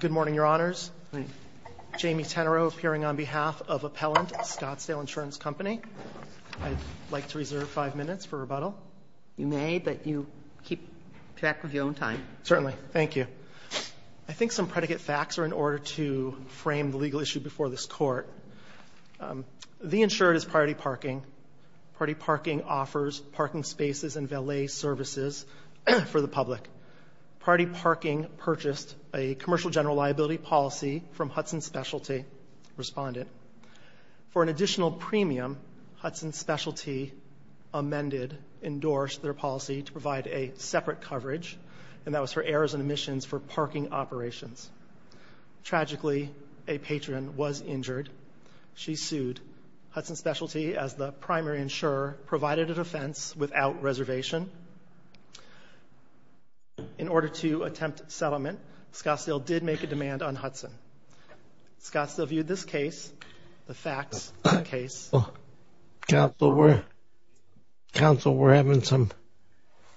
Good morning, Your Honors. Jamie Tenereau appearing on behalf of Appellant Scottsdale Insurance Company. I'd like to reserve five minutes for rebuttal. You may, but you keep track of your own time. Certainly. Thank you. I think some predicate facts are in order to frame the legal issue before this Court. The insured is Priority Parking. Priority Parking offers parking spaces and valet services for the public. Priority Parking purchased a commercial general liability policy from Hudson Specialty, respondent. For an additional premium, Hudson Specialty amended, endorsed their policy to provide a separate coverage, and that was for errors and omissions for parking operations. Tragically, a patron was injured. She sued. Hudson Specialty, as the primary insurer, provided a defense without reservation. In order to attempt settlement, Scottsdale did make a demand on Hudson. Scottsdale viewed this case, the facts of the case. Counsel, we're having some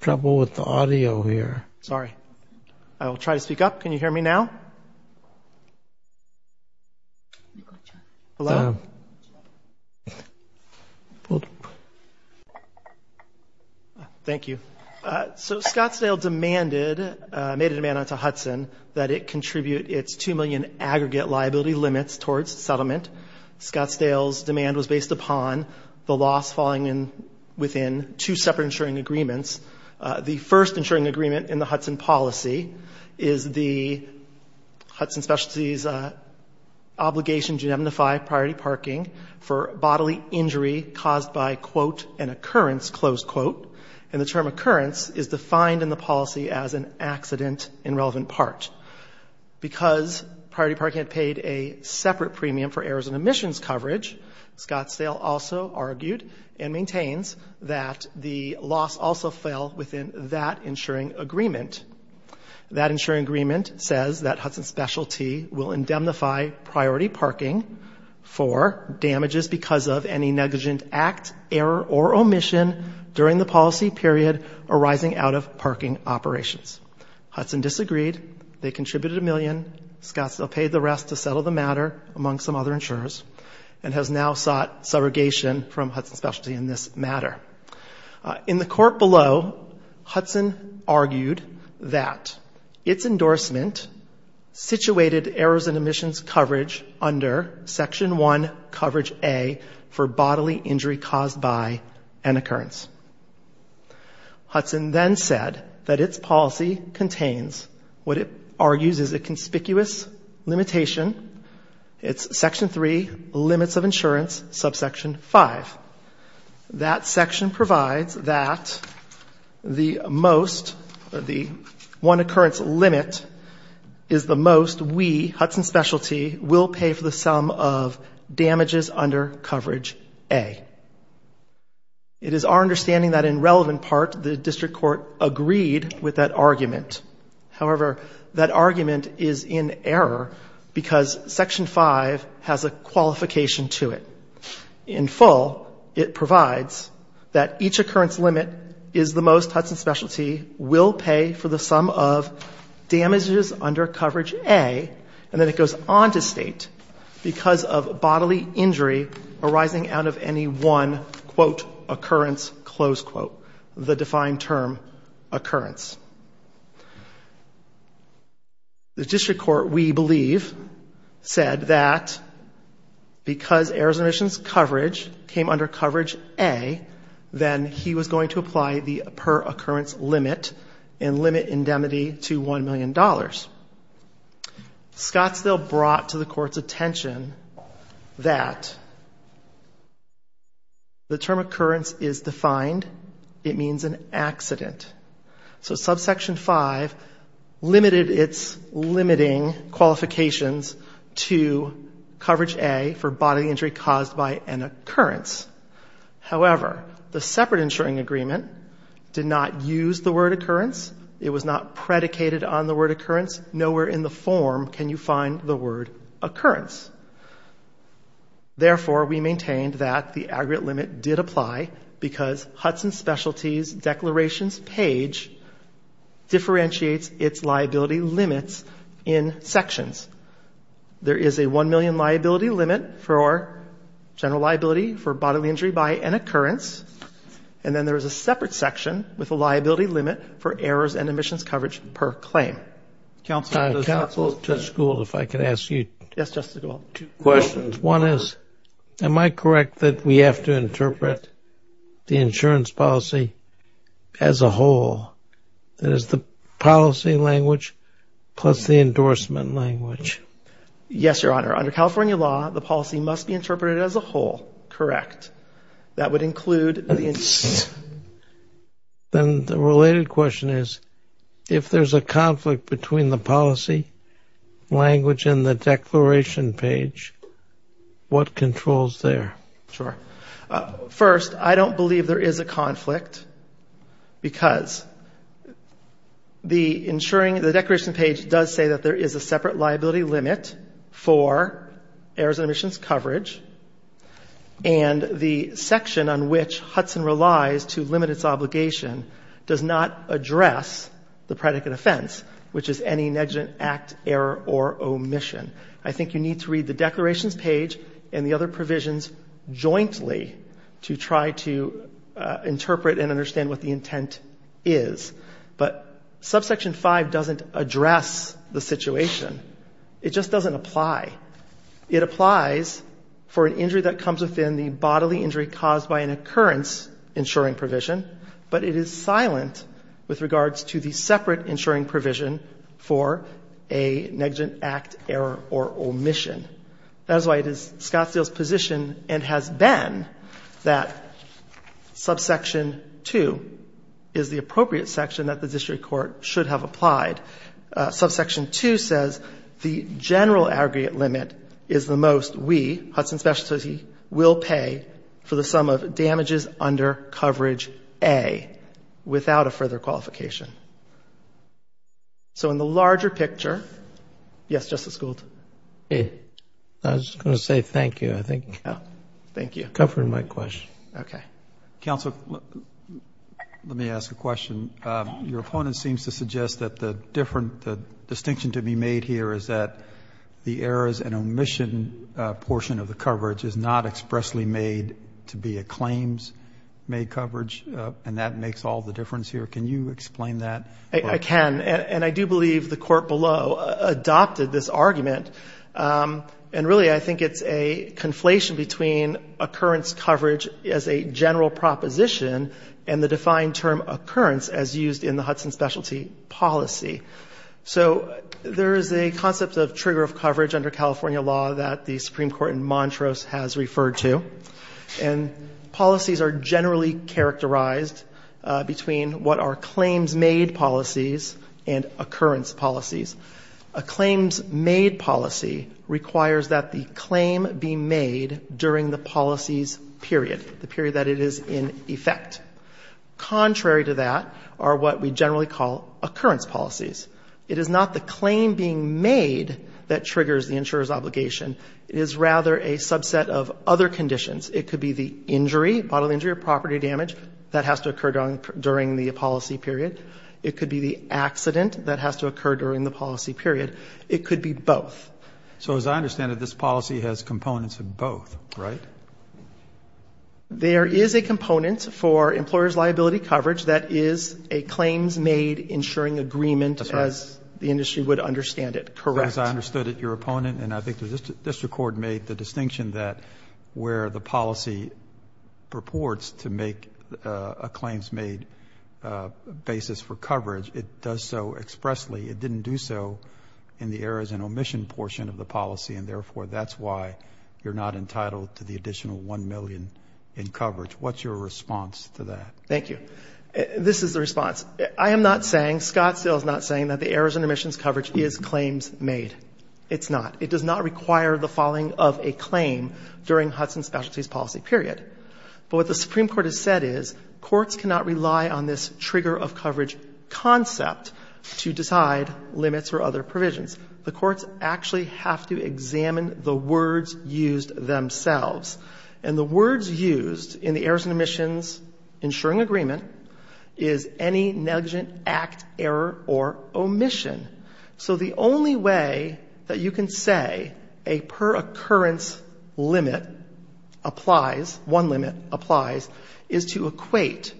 trouble with the audio here. Sorry. I will try to speak up. Can you hear me Thank you. So Scottsdale demanded, made a demand onto Hudson that it contribute its two million aggregate liability limits towards settlement. Scottsdale's demand was based upon the loss falling in within two separate insuring agreements. The first insuring agreement in the Hudson policy is the Hudson Specialty's obligation to indemnify Priority Parking for bodily injury caused by, quote, an occurrence, close quote. And the term occurrence is defined in the policy as an accident in relevant part. Because Priority Parking had paid a separate premium for errors and omissions coverage, Scottsdale also argued and maintains that the loss also fell within that insuring agreement. That insuring agreement says that Hudson Specialty will indemnify Priority Parking for damages because of any negligent act, error, or omission during the policy period arising out of parking operations. Hudson disagreed. They contributed a million. Scottsdale paid the rest to settle the matter, among some other insurers, and has now sought surrogation from Hudson Specialty in this matter. In the court below, Hudson argued that its endorsement situated errors and omissions coverage A for bodily injury caused by an occurrence. Hudson then said that its policy contains what it argues is a conspicuous limitation. It's Section 3, limits of insurance, subsection 5. That section provides that the most, the one occurrence limit is the most we, Hudson Specialty, will pay for the sum of damages under coverage A. It is our understanding that in relevant part, the district court agreed with that argument. However, that argument is in error because Section 5 has a qualification to it. In full, it provides that each occurrence limit is the most Hudson Specialty will pay for the sum of damages under coverage A, and then it goes on to state, because of bodily injury arising out of any one, quote, occurrence, close quote, the defined term, occurrence. The district court, we believe, said that because errors and omissions coverage came under coverage A, then he was going to apply the per occurrence limit and that's what happened. Scottsdale brought to the court's attention that the term occurrence is defined. It means an accident. So subsection 5 limited its limiting qualifications to coverage A for bodily injury caused by an occurrence. However, the separate insuring agreement did not use the word occurrence. It was not predicated on the word occurrence. Nowhere in the form can you find the word occurrence. Therefore, we maintained that the aggregate limit did apply because Hudson Specialty's declarations page differentiates its liability limits in sections. There is a 1 million liability limit for general liability for bodily injury by an occurrence, and then there is a separate section with a liability limit for errors and omissions coverage per claim. Counsel, if I could ask you two questions. One is, am I correct that we have to interpret the insurance policy as a whole? That is the policy language plus the endorsement language? Yes, Your Honor. Under California law, the policy must be interpreted as a whole. Correct. That would include the endorsement. Then the related question is, if there's a conflict between the policy language and the declaration page, what controls there? Sure. First, I don't believe there is a conflict because the declaration page does say that there is a separate section, and the section on which Hudson relies to limit its obligation does not address the predicate offense, which is any negligent act, error, or omission. I think you need to read the declarations page and the other provisions jointly to try to interpret and understand what the intent is. But subsection 5 doesn't address the situation. It just doesn't apply. It applies for an injury that comes with in the bodily injury caused by an occurrence insuring provision, but it is silent with regards to the separate insuring provision for a negligent act, error, or omission. That is why it is Scottsdale's position, and has been, that subsection 2 is the appropriate section that the district court should have applied. Subsection 2 says the general aggregate limit is the most we, Hudson Specialty, will pay for the sum of damages under coverage A, without a further qualification. So in the larger picture, yes, Justice Gould? I was going to say thank you. I think you covered my question. Counsel, let me ask a question. Your opponent seems to suggest that the distinction to be made here is that the errors and errors are not expressly made to be a claims-made coverage, and that makes all the difference here. Can you explain that? I can, and I do believe the court below adopted this argument. And really, I think it's a conflation between occurrence coverage as a general proposition and the defined term occurrence as used in the Hudson Specialty policy. So there is a concept of trigger of coverage under California law that the Supreme Court in Montrose has rejected. And policies are generally characterized between what are claims-made policies and occurrence policies. A claims-made policy requires that the claim be made during the policy's period, the period that it is in effect. Contrary to that are what we generally call occurrence policies. It is not the claim being made that triggers the insurer's obligation. It is rather a subset of other conditions. It could be the injury, bodily injury or property damage that has to occur during the policy period. It could be the accident that has to occur during the policy period. It could be both. So as I understand it, this policy has components of both, right? There is a component for employer's liability coverage that is a claims-made insuring agreement, as the industry would understand it. Correct. As I understood it, your opponent and I think the district court made the distinction that where the policy purports to make a claims-made basis for coverage, it does so expressly. It didn't do so in the errors and omission portion of the policy. And therefore, that's why you're not entitled to the additional $1 million in coverage. What's your response to that? Thank you. This is the response. It is not a claims-made. It's not. It does not require the following of a claim during Hudson Specialty's policy period. But what the Supreme Court has said is courts cannot rely on this trigger of coverage concept to decide limits or other provisions. The courts actually have to examine the words used themselves. And the words used in the errors and omissions insuring agreement is any negligent act, error or omission. So the only way that you can say a per-occurrence limit applies, one limit applies, is to equate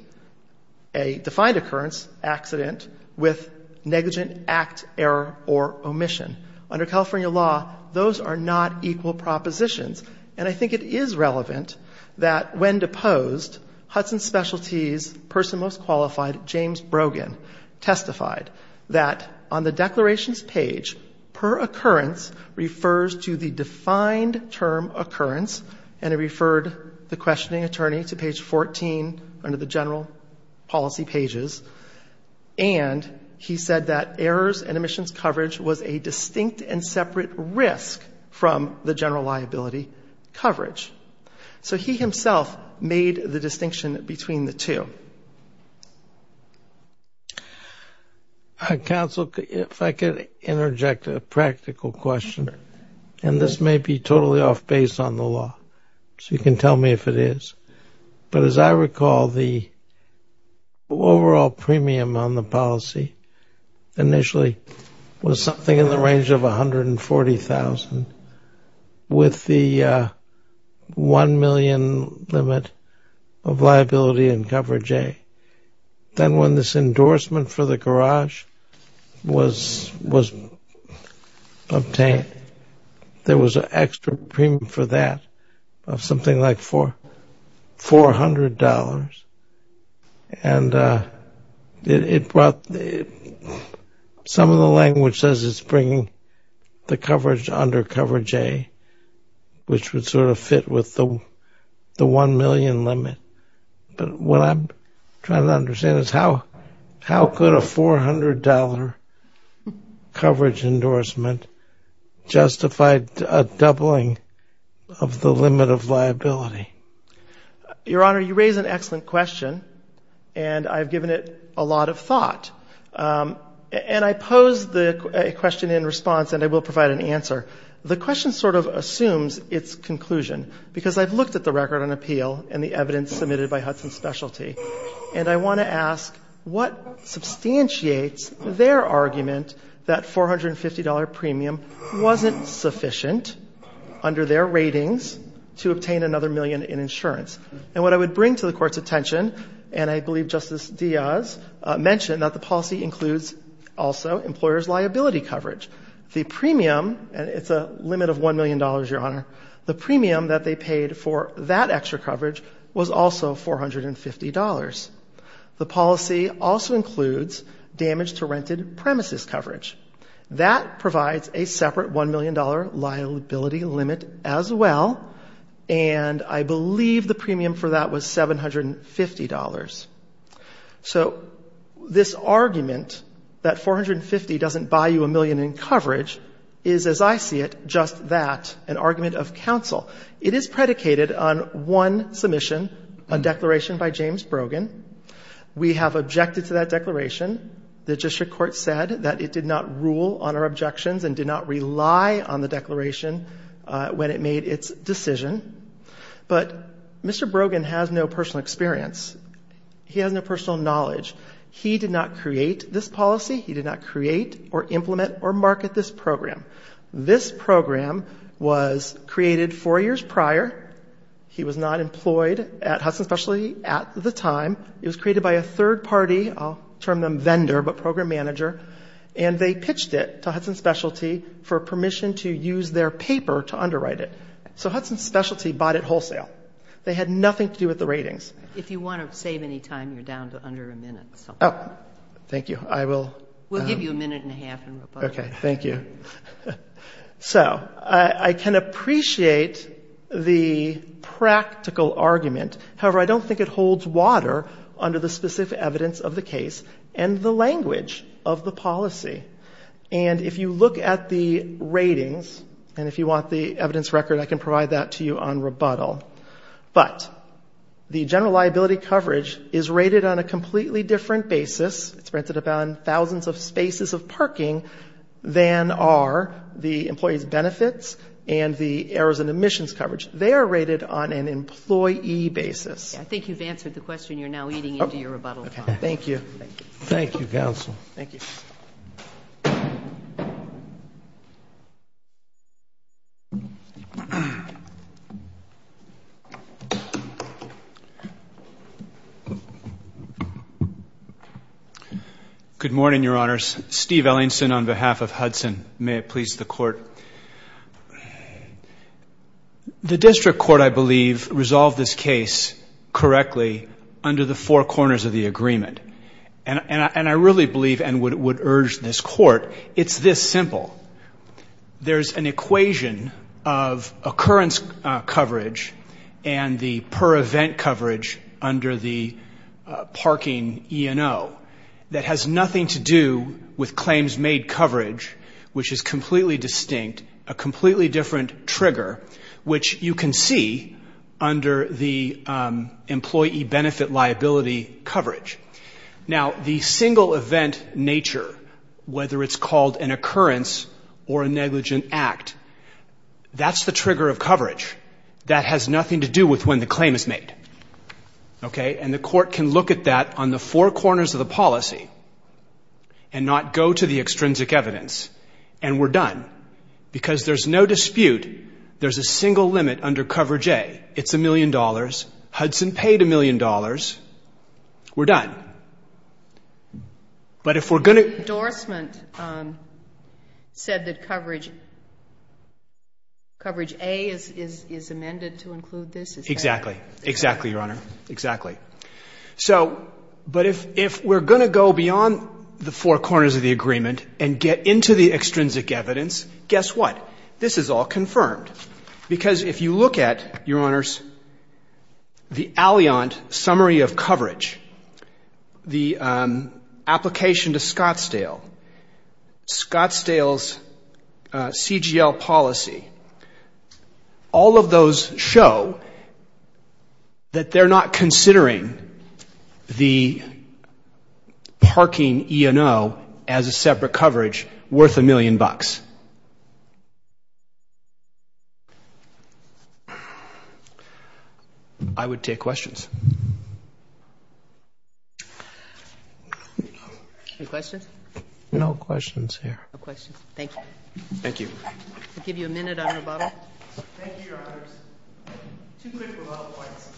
a defined occurrence, accident, with negligent act, error or omission. Under California law, those are not equal propositions. And I think it is relevant that when deposed, Hudson Specialty's person most qualified, James Brogan, testified that on the basis of the declarations page, per-occurrence refers to the defined term occurrence. And he referred the questioning attorney to page 14 under the general policy pages. And he said that errors and omissions coverage was a distinct and separate risk from the general liability coverage. So he himself made the distinction between the two. Counsel, if I could interject a practical question, and this may be totally off-base on the law, so you can tell me if it is. But as I recall, the overall premium on the policy initially was something in the range of $140,000, with the $1 million limit of liability and coverage in it. And then when this endorsement for the garage was obtained, there was an extra premium for that of something like $400. And it brought, some of the language says it's bringing the coverage under coverage A, which would sort of fit with the $1 million limit. But what I'm trying to understand is how could a $400 coverage endorsement justify a doubling of the limit of liability? Your Honor, you raise an excellent question, and I've given it a lot of thought. And I pose the question in response, and I will provide an answer. The question sort of assumes its conclusion, because I've looked at the record on appeal and the evidence submitted by Hudson Specialty. And I want to ask what substantiates their argument that $450 premium wasn't sufficient under their ratings to obtain another million in insurance? And what I would bring to the Court's attention, and I believe Justice Diaz mentioned that the policy includes also employer's liability coverage. The premium, and it's a limit of $1 million, Your Honor, the premium that they paid for that extra coverage was also $450. The policy also includes damage to rented premises coverage. That provides a separate $1 million liability limit as well, and I believe the premium for that was $750. So this argument that $450 doesn't buy you a million in coverage is, as I see it, just that, an argument of counsel. It is predicated on one submission, a declaration by James Brogan. We have objected to that declaration. The district court said that it did not rule on our objections and did not rely on the declaration when it made its decision. But Mr. Brogan has no personal experience. He has no personal knowledge. He did not create this policy. He did not create or implement or market this program. This program was created four years prior. He was not employed at Hudson Specialty at the time. It was created by a third party, I'll term them vendor, but program manager, and they pitched it to Hudson Specialty for permission to use their paper to underwrite it. Hudson Specialty bought it wholesale. They had nothing to do with the ratings. So I can appreciate the practical argument. However, I don't think it holds water under the specific evidence of the case and the language of the policy. And if you look at the ratings, and if you want the evidence record, I can provide that to you on the website, but I can't give you the exact numbers. I can only give you the general liability coverage, which is rated on a completely different basis. It's rated on thousands of spaces of parking than are the employee's benefits and the errors in admissions coverage. They are rated on an employee basis. I think you've answered the question. You're now eating into your rebuttal time. Thank you. Good morning, Your Honors. Steve Ellingson on behalf of Hudson. May it please the Court. The district court, I believe, resolved this case correctly under the four corners of the agreement. And I really believe and would urge this Court, it's this simple. There's an equation of occurrence coverage and the per-event coverage under the parking E&O that has nothing to do with claims made coverage, which is completely distinct, a completely different trigger, which you can see under the employee benefit liability coverage. Now, the single-event nature, whether it's called an occurrence or a negligent act, that's the trigger of coverage. That has nothing to do with when the claim is made. And the Court can look at that on the four corners of the policy and not go to the extrinsic evidence. And we're done, because there's no dispute. There's a single limit under coverage A. It's a million dollars. Hudson paid a million dollars. We're done. But if we're going to... But if we're going to go beyond the four corners of the agreement and get into the extrinsic evidence, guess what? This is all confirmed. Because if you look at, Your Honors, the Alliant summary of coverage, the application to Scottsdale, Scottsdale's CGL policy, all of those show that they're not considering the parking E&O as a separate coverage worth a million bucks. I would take questions. Any questions? No questions here. No questions. Thank you. Thank you. I'll give you a minute on rebuttal. Thank you, Your Honors. Two quick rebuttal points.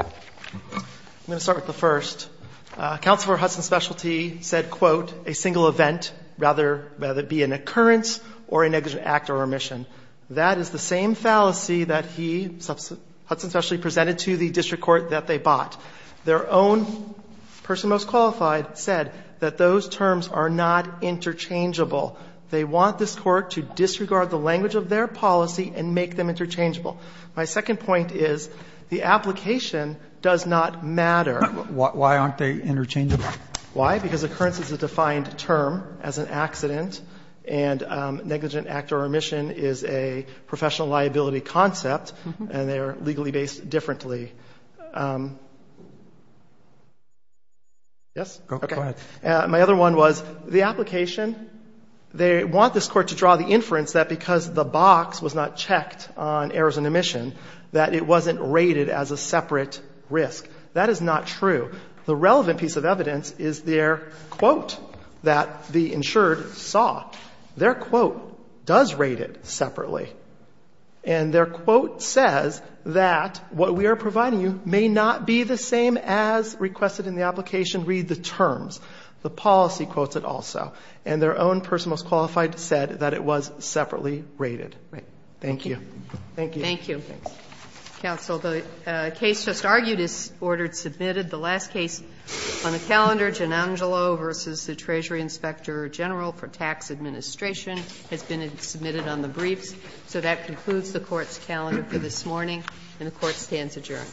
I'm going to start with the first. Counselor Hudson's specialty said, quote, a single event, whether it be an occurrence or a negligent act or remission. That is the same fallacy that he, Hudson's specialty, presented to the district court that they bought. Their own person most qualified said that those terms are not interchangeable. They want this court to disregard the language of their policy and make them interchangeable. My second point is the application does not matter. Why aren't they interchangeable? Why? Because occurrence is a defined term as an accident, and negligent act or remission is a professional liability concept, and they are legally based differently. Yes? Go ahead. My other one was, the application, they want this court to draw the inference that because the box was not checked on errors and remission, that it wasn't rated as a separate risk. That is not true. The relevant piece of evidence is their quote that the insured saw. Their quote does rate it separately. And their quote says that what we are providing you may not be the same as requested in the application. And their own person most qualified said that it was separately rated. Thank you. Counsel, the case just argued is ordered submitted. The last case on the calendar, Gianangelo v. the Treasury Inspector General for Tax Administration, has been submitted on the briefs. So that concludes the court's calendar for this morning, and the court stands adjourned.